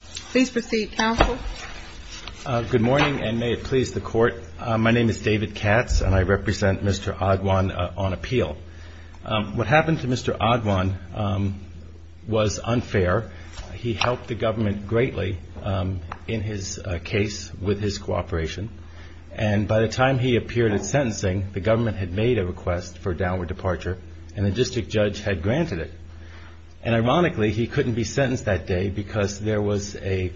Please proceed counsel. Good morning and may it please the court. My name is David Katz and I represent Mr. Adwan on appeal. What happened to Mr. Adwan was unfair. He helped the government greatly in his case with his cooperation and by the time he appeared at sentencing the government had made a request for a downward departure and the district judge had granted it. And ironically he couldn't be sentenced that day because there was a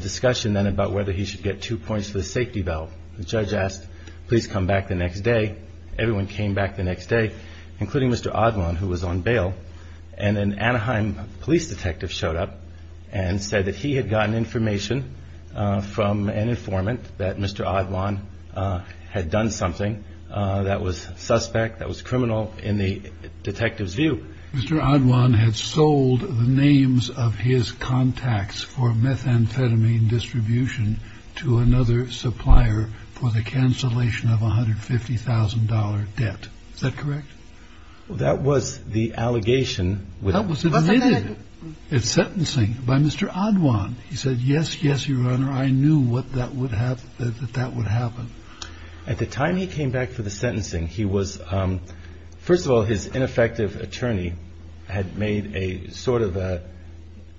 discussion then about whether he should get two points for the safety valve. The judge asked please come back the next day. Everyone came back the next day including Mr. Adwan who was on bail and an Anaheim police detective showed up and said that he had gotten information from an informant that Mr. Adwan had done something that was suspect, that was criminal in the detective's view. Mr. Adwan had sold the names of his contacts for methamphetamine distribution to another supplier for the cancellation of $150,000 debt. Is that correct? Well that was the allegation. That was admitted at sentencing by Mr. Adwan. He said yes yes your honor I knew that that would happen. At the time he came back for the sentencing he was first of all his ineffective attorney had made a sort of a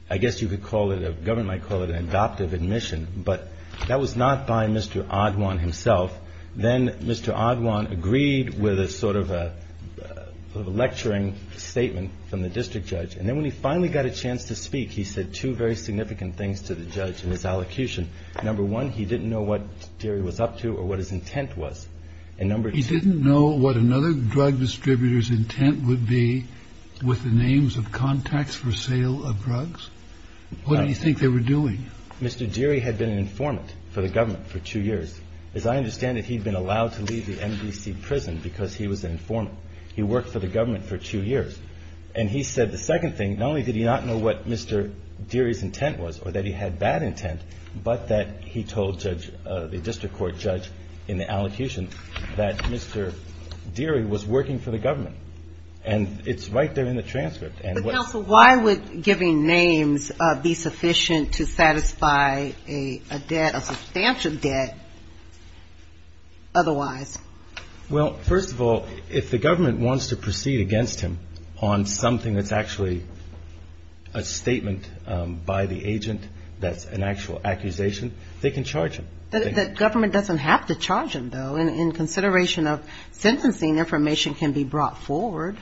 I guess you could call it a government might call it an adoptive admission but that was not by Mr. Adwan himself. Then Mr. Adwan agreed with a sort of a lecturing statement from the district judge and then when he finally got a chance to speak he said two very significant things to the judge in his allocution. Number one he didn't know what Deary was up to or what his intent was. He didn't know what another drug distributor's intent would be with the names of contacts for sale of drugs? What did he think they were doing? Mr. Deary had been an informant for the government for two years. As I understand it he'd been allowed to leave the NBC prison because he was an informant. He worked for the government for two years and he said the second thing not only did he not know what Mr. Deary's intent was or that he had bad intent but that he told the district court judge in the allocution that Mr. Deary was working for the government and it's right there in the transcript. But counsel why would giving names be sufficient to satisfy a debt, a substantial debt otherwise? Well first of all if the government wants to proceed against him on something that's actually a statement by the agent that's an actual accusation they can charge him. The government doesn't have to charge him though in consideration of sentencing information can be brought forward.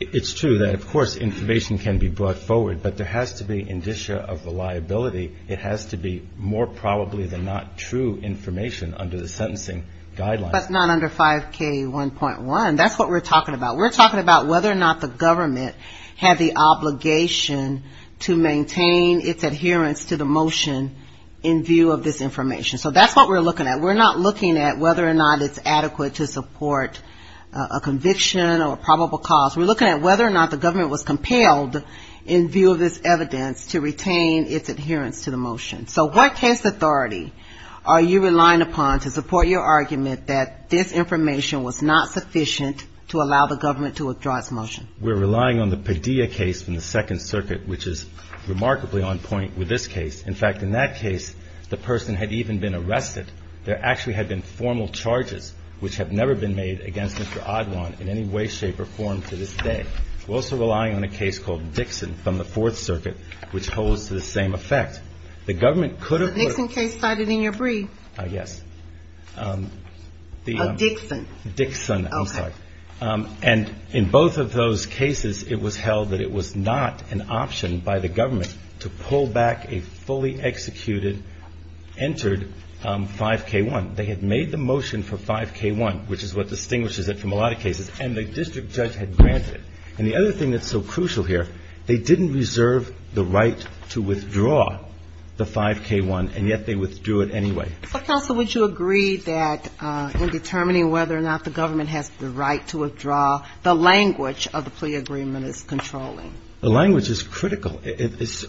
It's true that of course information can be brought forward but there has to be indicia of the liability. It has to be more probably than not true information under the sentencing guidelines. But not under 5K1.1. That's what we're talking about. We're talking about whether or not the government had the obligation to maintain its adherence to the motion in view of this information. So that's what we're looking at. We're not looking at whether or not it's adequate to support a conviction or probable cause. We're looking at whether or not the government was compelled in view of this evidence to retain its adherence to the motion. So what case authority are you relying upon to support your argument that this information was not sufficient to allow the government to withdraw its motion? We're relying on the Padilla case from the Second Circuit which is remarkably on point with this case. In fact in that case the person had even been arrested. There actually had been formal charges which have never been made against Mr. Oddwan in any way, shape or form to this day. We're also relying on a case called Dixon from the Fourth Circuit which holds to the same effect. The Nixon case cited in your brief? Yes. Dixon. Dixon, I'm sorry. Okay. And in both of those cases it was held that it was not an option by the government to pull back a fully executed, entered 5K1. They had made the motion for 5K1 which is what distinguishes it from a lot of cases and the district judge had granted it. And the other thing that's so crucial here, they didn't reserve the right to withdraw the 5K1 and yet they withdrew it anyway. But Counsel, would you agree that in determining whether or not the government has the right to withdraw, the language of the plea agreement is controlling? The language is critical.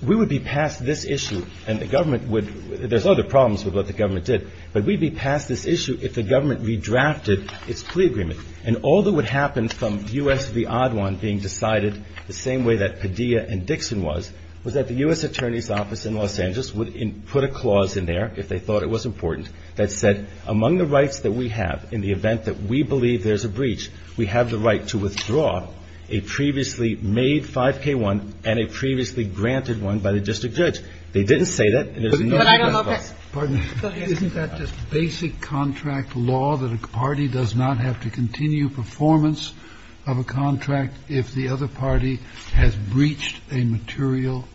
We would be past this issue and the government would, there's other problems with what the government did, but we'd be past this issue if the government redrafted its plea agreement. And all that would happen from U.S. v. Odd One being decided the same way that Padilla and Dixon was, was that the U.S. Attorney's Office in Los Angeles would put a clause in there, if they thought it was important, that said, among the rights that we have, in the event that we believe there's a breach, we have the right to withdraw a previously made 5K1 and a previously granted one by the district judge. They didn't say that. Isn't that just basic contract law that a party does not have to continue performance of a contract if the other party has breached a material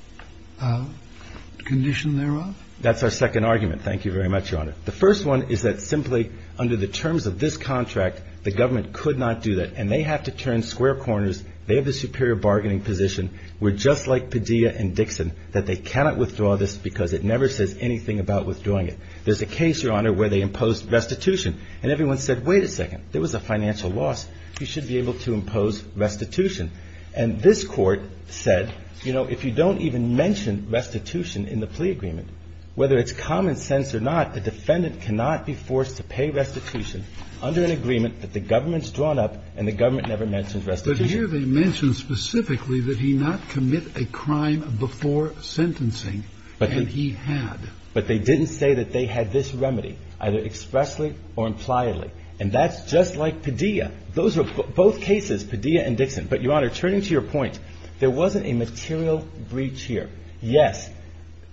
condition thereof? That's our second argument. Thank you very much, Your Honor. The first one is that simply under the terms of this contract, the government could not do that and they have to turn square corners. They have the superior bargaining position. We're just like Padilla and Dixon, that they cannot withdraw this because it never says anything about withdrawing it. There's a case, Your Honor, where they imposed restitution and everyone said, wait a second, there was a financial loss. You should be able to impose restitution. And this court said, you know, if you don't even mention restitution in the plea agreement, whether it's common sense or not, the defendant cannot be forced to pay restitution under an agreement that the government's drawn up and the government never mentioned restitution. But here they mention specifically that he not commit a crime before sentencing and he had. But they didn't say that they had this remedy, either expressly or impliedly, and that's just like Padilla. Those are both cases, Padilla and Dixon. But, Your Honor, turning to your point, there wasn't a material breach here. Yes,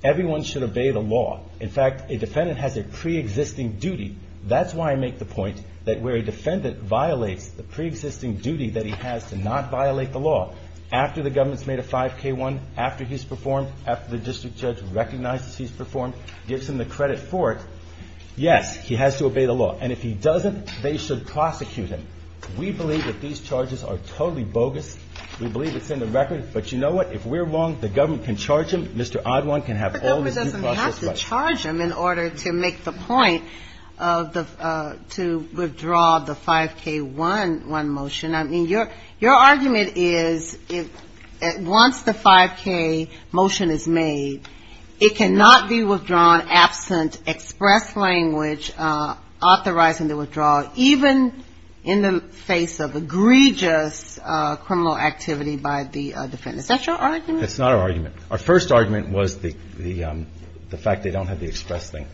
everyone should obey the law. In fact, a defendant has a preexisting duty. That's why I make the point that where a defendant violates the preexisting duty that he has to not violate the law after the government's made a 5K1, after he's performed, after the district judge recognizes he's performed, gives him the credit for it, yes, he has to obey the law. And if he doesn't, they should prosecute him. We believe that these charges are totally bogus. We believe it's in the record. But you know what? If we're wrong, the government can charge him. Mr. Oddwine can have all the due process rights. But if we're wrong, the government can charge him in order to make the point of the to withdraw the 5K1 motion. I mean, your argument is once the 5K motion is made, it cannot be withdrawn absent express language authorizing the withdrawal, even in the face of egregious criminal activity by the defendant. Is that your argument? That's not our argument. Our first argument was the fact they don't have the express thing.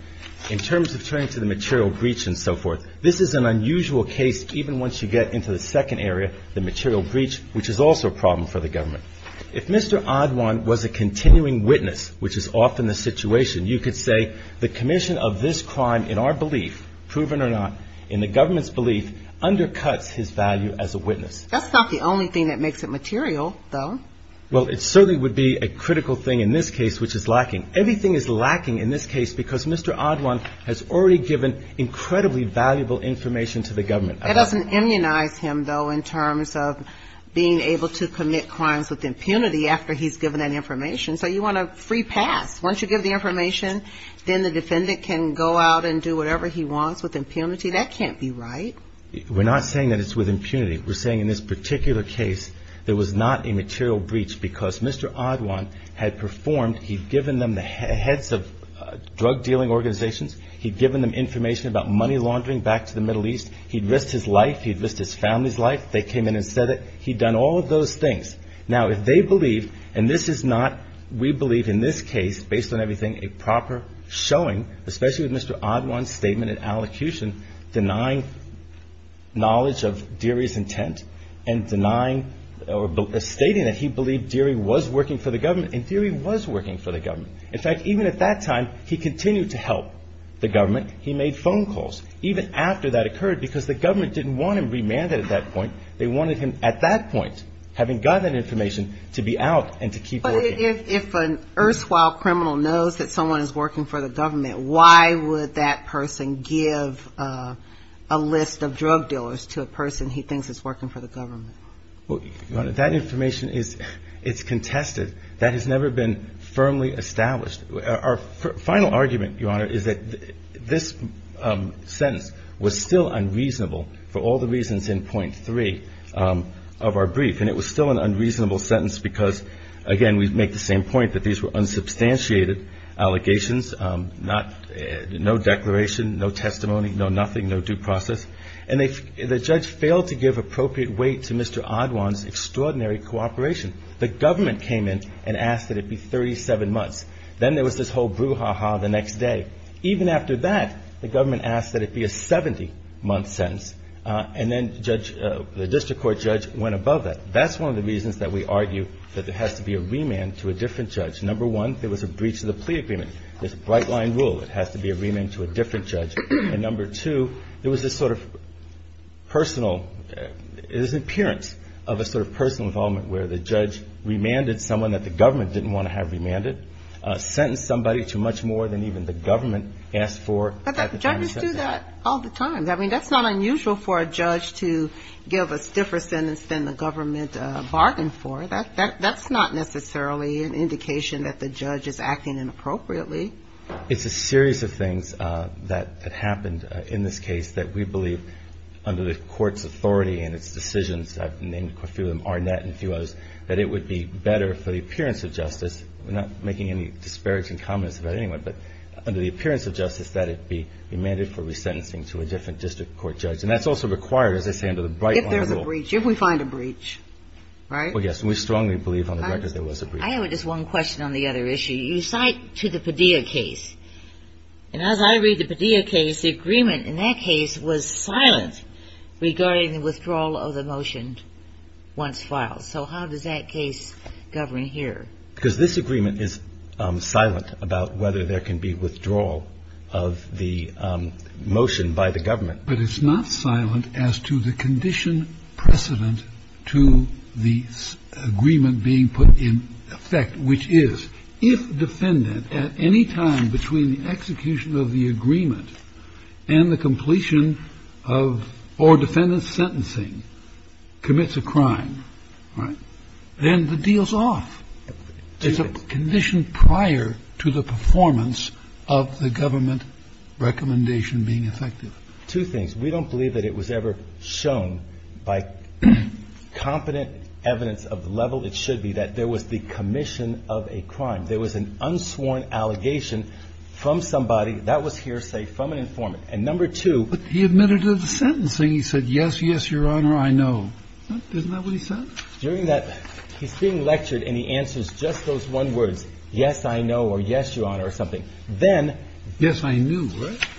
In terms of turning to the material breach and so forth, this is an unusual case, even once you get into the second area, the material breach, which is also a problem for the government. If Mr. Oddwine was a continuing witness, which is often the situation, you could say the commission of this crime in our belief, proven or not, in the government's belief, undercuts his value as a witness. That's not the only thing that makes it material, though. Well, it certainly would be a critical thing in this case, which is lacking. Everything is lacking in this case because Mr. Oddwine has already given incredibly valuable information to the government. That doesn't immunize him, though, in terms of being able to commit crimes with impunity after he's given that information. So you want a free pass. Once you give the information, then the defendant can go out and do whatever he wants with impunity. That can't be right. We're not saying that it's with impunity. We're saying in this particular case there was not a material breach because Mr. Oddwine had performed. He'd given them the heads of drug dealing organizations. He'd given them information about money laundering back to the Middle East. He'd risked his life. He'd risked his family's life. They came in and said it. He'd done all of those things. Now, if they believe, and this is not, we believe in this case, based on everything, a proper showing, especially with Mr. Oddwine's statement and intent and denying or stating that he believed Deary was working for the government, and Deary was working for the government. In fact, even at that time, he continued to help the government. He made phone calls even after that occurred because the government didn't want him remanded at that point. They wanted him at that point, having gotten that information, to be out and to keep working. But if an erstwhile criminal knows that someone is working for the government, why would that person give a list of drug dealers to a That information is contested. That has never been firmly established. Our final argument, Your Honor, is that this sentence was still unreasonable for all the reasons in point three of our brief. And it was still an unreasonable sentence because, again, we make the same point that these were unsubstantiated allegations, no declaration, no testimony, no nothing, no due process. And the judge failed to give appropriate weight to Mr. Oddwine's extraordinary cooperation. The government came in and asked that it be 37 months. Then there was this whole brouhaha the next day. Even after that, the government asked that it be a 70-month sentence. And then the district court judge went above that. That's one of the reasons that we argue that there has to be a remand to a different judge. Number one, there was a breach of the plea agreement. There's a bright-line rule. It has to be a remand to a different judge. And number two, there was this sort of personal, this appearance of a sort of personal involvement where the judge remanded someone that the government didn't want to have remanded, sentenced somebody to much more than even the government asked for. But judges do that all the time. I mean, that's not unusual for a judge to give a stiffer sentence than the government bargained for. That's not necessarily an indication that the judge is acting inappropriately. It's a series of things that happened in this case that we believe under the court's authority and its decisions, I've named a few of them, Arnett and a few others, that it would be better for the appearance of justice. We're not making any disparaging comments about anyone. But under the appearance of justice, that it be remanded for resentencing to a different district court judge. And that's also required, as I say, under the bright-line rule. If there's a breach. If we find a breach, right? Well, yes. And we strongly believe on the record there was a breach. I have just one question on the other issue. You cite to the Padilla case. And as I read the Padilla case, the agreement in that case was silent regarding the withdrawal of the motion once filed. So how does that case govern here? Because this agreement is silent about whether there can be withdrawal of the motion by the government. But it's not silent as to the condition precedent to the agreement being put in effect, which is if defendant at any time between the execution of the agreement and the completion of or defendant sentencing commits a crime. Right. Then the deal's off. It's a condition prior to the performance of the government recommendation being effective. Two things. We don't believe that it was ever shown by competent evidence of the level it should be that there was the commission of a crime. There was an unsworn allegation from somebody. That was hearsay from an informant. And number two. But he admitted to the sentencing. He said, yes, yes, Your Honor, I know. Isn't that what he said? During that he's being lectured and he answers just those one words, yes, I know, or yes, Your Honor, or something. Then. Yes, I knew.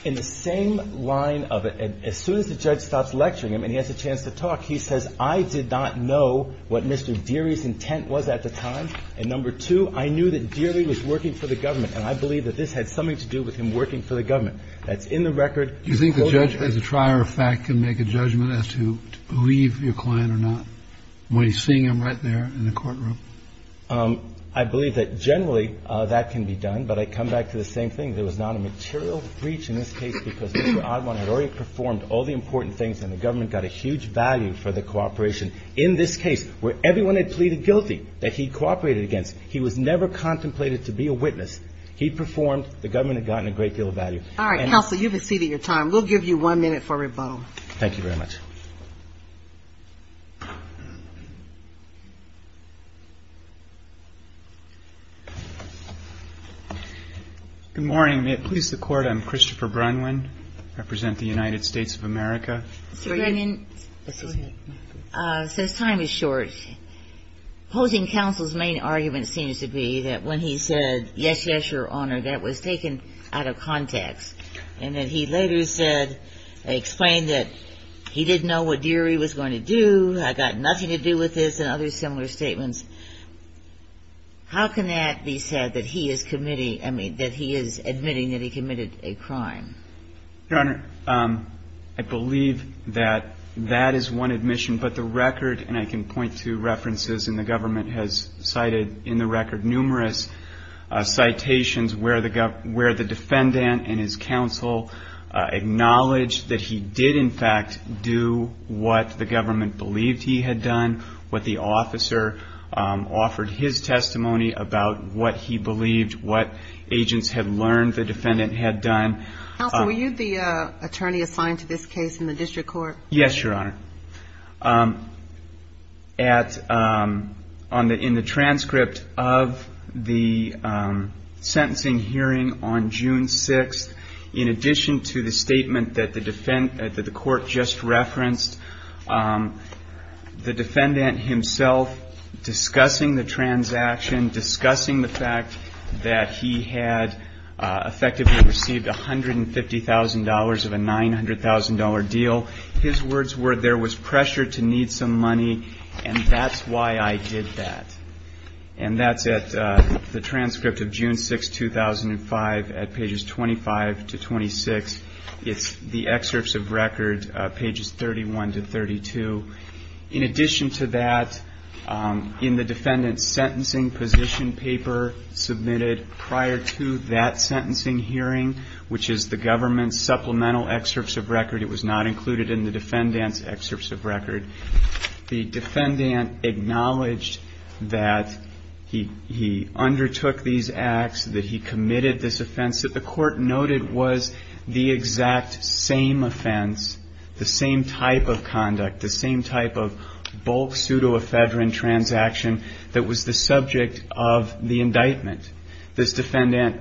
In the same line of it, as soon as the judge stops lecturing him and he has a chance to talk, he says, I did not know what Mr. Deary's intent was at the time. And number two, I knew that Deary was working for the government. And I believe that this had something to do with him working for the government. That's in the record. Do you think the judge as a trier of fact can make a judgment as to believe your client or not when he's seeing him right there in the courtroom? I believe that generally that can be done. But I come back to the same thing. There was not a material breach in this case because Mr. Oddman had already performed all the important things and the government got a huge value for the cooperation in this case where everyone had pleaded guilty that he cooperated against. He was never contemplated to be a witness. He performed. The government had gotten a great deal of value. All right, counsel, you've exceeded your time. We'll give you one minute for rebuttal. Thank you very much. Good morning. May it please the Court, I'm Christopher Brunwyn. I represent the United States of America. Mr. Brunwyn, since time is short, opposing counsel's main argument seems to be that when he said, yes, yes, Your Honor, that was taken out of context and that he later said, explained that he didn't know what Deary was going to do, I got nothing to do with this, and other similar statements. How can that be said that he is committing, I mean, that he is admitting that he committed a crime? Your Honor, I believe that that is one admission, but the record, and I can point to references and the government has cited in the record numerous citations where the defendant and his counsel acknowledged that he did, in fact, do what the government believed he had done, what the officer offered his testimony about what he believed, what agents had learned the defendant had done. Counsel, were you the attorney assigned to this case in the district court? Yes, Your Honor. In the transcript of the sentencing hearing on June 6th, in addition to the statement that the court just referenced, the defendant himself discussing the transaction, discussing the fact that he had effectively received $150,000 of a $900,000 deal, his words were, there was pressure to need some money, and that's why I did that. And that's at the transcript of June 6th, 2005, at pages 25 to 26. It's the excerpts of record, pages 31 to 32. In addition to that, in the defendant's sentencing position paper submitted prior to that sentencing hearing, which is the government's supplemental excerpts of record, it was not included in the defendant's excerpts of record, the defendant acknowledged that he undertook these acts, that he committed this offense, that the court noted was the exact same offense, the same type of conduct, the same type of bulk pseudoephedrine transaction that was the subject of the indictment. This defendant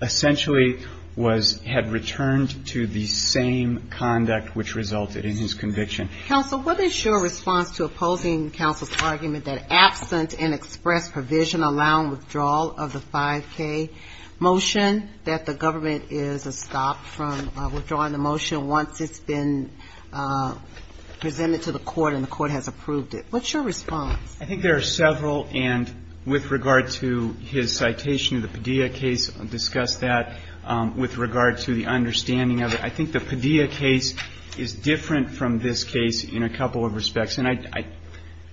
essentially was, had returned to the same conduct which resulted in his conviction. Counsel, what is your response to opposing counsel's argument that absent an express provision allowing withdrawal of the 5K motion, that the government is a stop from withdrawing the motion once it's been presented to the court and the court has approved it? What's your response? I think there are several, and with regard to his citation of the Padilla case, I'll discuss that with regard to the understanding of it. I think the Padilla case is different from this case in a couple of respects. And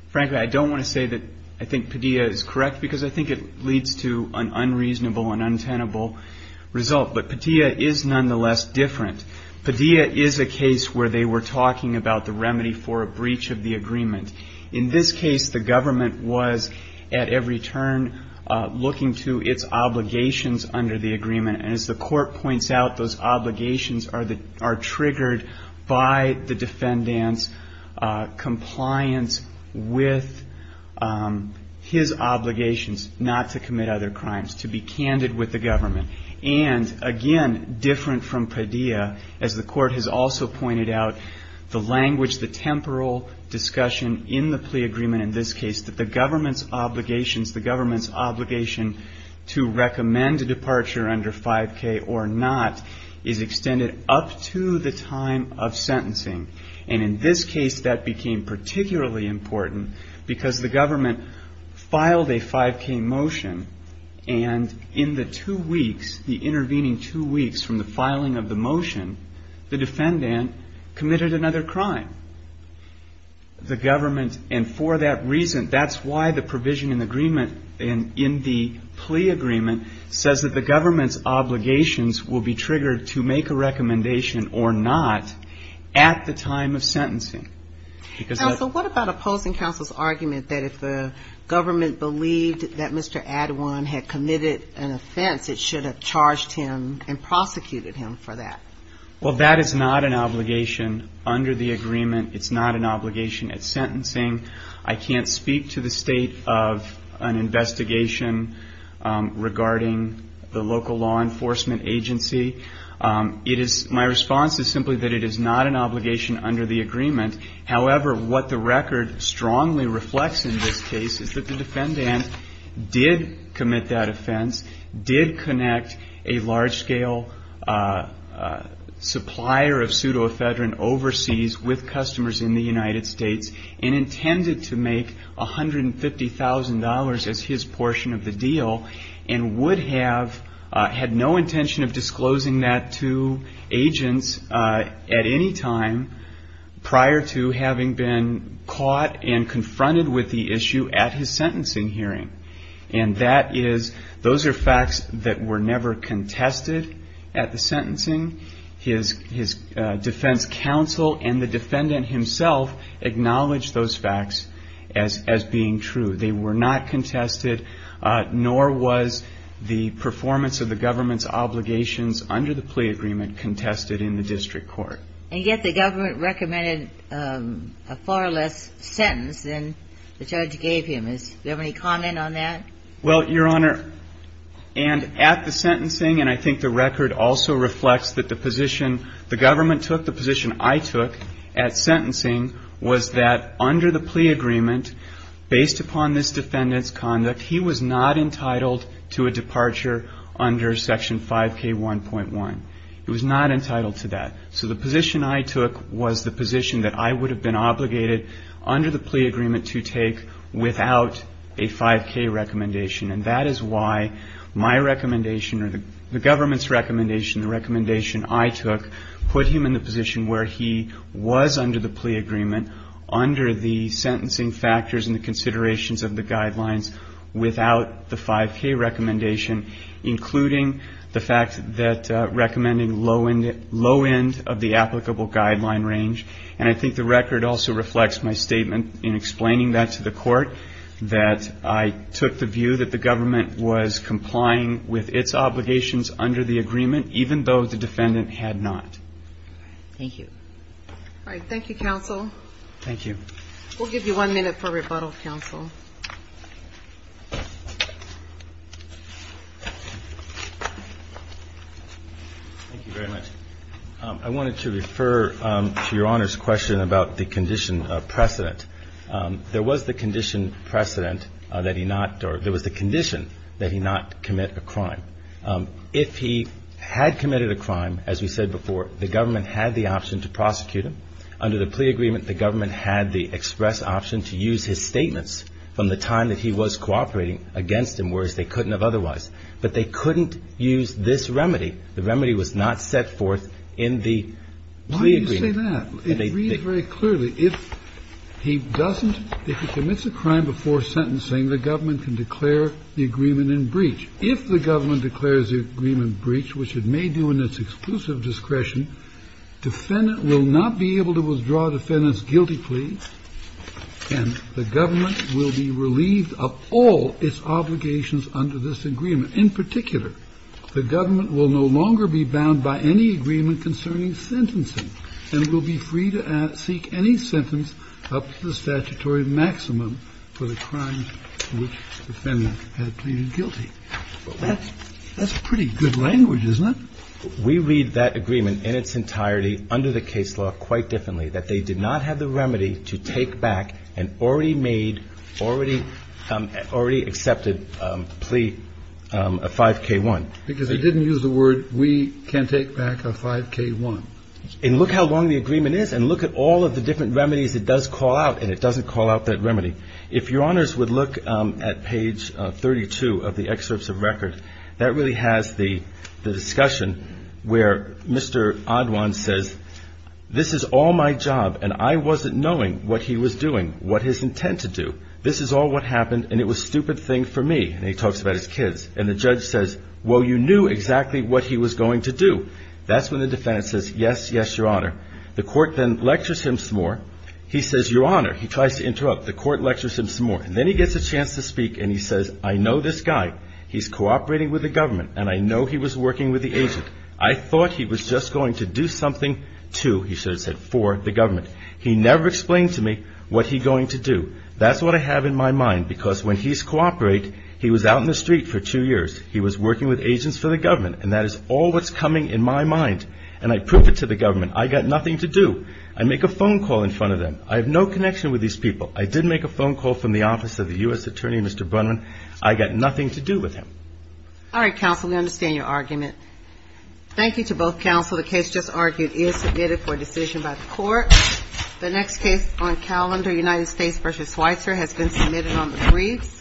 frankly, I don't want to say that I think Padilla is correct, because I think it leads to an unreasonable and untenable result. But Padilla is nonetheless different. Padilla is a case where they were talking about the remedy for a breach of the agreement. In this case, the government was at every turn looking to its obligations under the agreement. And as the court points out, those obligations are triggered by the defendant's compliance with his obligations not to commit other crimes, to be candid with the government. And again, different from Padilla, as the court has also pointed out, the language, the temporal discussion in the plea agreement in this case, that the government's obligations, the government's obligation to recommend a departure under 5K or not is extended up to the time of sentencing. And in this case, that became particularly important because the government filed a 5K motion, and in the two weeks, the intervening two weeks from the filing of the motion, the defendant committed another crime. The government, and for that reason, that's why the provision in the agreement, in the plea agreement, says that the government's obligations will be triggered to make a recommendation or not at the time of sentencing. Counsel, what about opposing counsel's argument that if the government believed that Mr. Adewine had committed an offense, it should have charged him and prosecuted him for that? Well, that is not an obligation under the agreement. It's not an obligation at sentencing. I can't speak to the state of an investigation regarding the local law enforcement agency. My response is simply that it is not an obligation under the agreement. However, what the record strongly reflects in this case is that the defendant did commit that offense, did connect a large-scale supplier of pseudoephedrine overseas with customers in the United States, and intended to make $150,000 as his portion of the deal, and had no intention of disclosing that to agents at any time prior to having been caught and confronted with the issue at his sentencing hearing. And those are facts that were never contested at the sentencing. His defense counsel and the defendant himself acknowledged those facts as being true. They were not contested, nor was the performance of the government's obligations under the plea agreement contested in the district court. And yet the government recommended a far less sentence than the judge gave him. Do you have any comment on that? Well, Your Honor, and at the sentencing, and I think the record also reflects that the position the government took, the position I took at sentencing was that under the plea agreement, based upon this defendant's conduct, he was not entitled to a departure under Section 5K1.1. He was not entitled to that. So the position I took was the position that I would have been obligated under the plea agreement to take without a 5K recommendation. And that is why my recommendation or the government's recommendation, the recommendation I took, put him in the position where he was under the plea agreement under the sentencing factors and the considerations of the guidelines without the 5K recommendation, including the fact that recommending low end of the applicable guideline range. And I think the record also reflects my statement in explaining that to the court, that I took the view that the government was complying with its obligations under the agreement, even though the defendant had not. Thank you. All right. Thank you, counsel. Thank you. We'll give you one minute for rebuttal, counsel. Thank you very much. I wanted to refer to Your Honor's question about the condition of precedent. There was the condition precedent that he not or there was the condition that he not commit a crime. If he had committed a crime, as we said before, the government had the option to prosecute him. Under the plea agreement, the government had the express option to use his statements from the time that he was cooperating against him, whereas they couldn't have otherwise. But they couldn't use this remedy. The remedy was not set forth in the plea agreement. Why do you say that? Well, it reads very clearly. If he doesn't, if he commits a crime before sentencing, the government can declare the agreement in breach. If the government declares the agreement in breach, which it may do in its exclusive discretion, defendant will not be able to withdraw defendant's guilty plea, and the government will be relieved of all its obligations under this agreement. In particular, the government will no longer be bound by any agreement concerning sentencing, and it will be free to seek any sentence up to the statutory maximum for the crimes for which defendant had pleaded guilty. That's pretty good language, isn't it? We read that agreement in its entirety under the case law quite differently, that they did not have the remedy to take back an already made, already accepted plea, a 5K1. Because they didn't use the word, we can take back a 5K1. And look how long the agreement is, and look at all of the different remedies it does call out, and it doesn't call out that remedy. If Your Honors would look at page 32 of the excerpts of record, that really has the discussion where Mr. Oddwan says, this is all my job, and I wasn't knowing what he was doing, what his intent to do. This is all what happened, and it was a stupid thing for me. And he talks about his kids. And the judge says, well, you knew exactly what he was going to do. That's when the defendant says, yes, yes, Your Honor. The court then lectures him some more. He says, Your Honor. He tries to interrupt. The court lectures him some more. And then he gets a chance to speak, and he says, I know this guy. He's cooperating with the government, and I know he was working with the agent. I thought he was just going to do something to, he should have said, for the government. He never explained to me what he going to do. That's what I have in my mind, because when he's cooperate, he was out in the country for a few years. He was working with agents for the government. And that is all that's coming in my mind. And I prove it to the government. I got nothing to do. I make a phone call in front of them. I have no connection with these people. I did make a phone call from the office of the U.S. Attorney, Mr. Brunman. I got nothing to do with him. All right, counsel. We understand your argument. Thank you to both counsel. The case just argued is submitted for decision by the court. The next case on calendar, United States v. Switzer has been submitted on the briefs.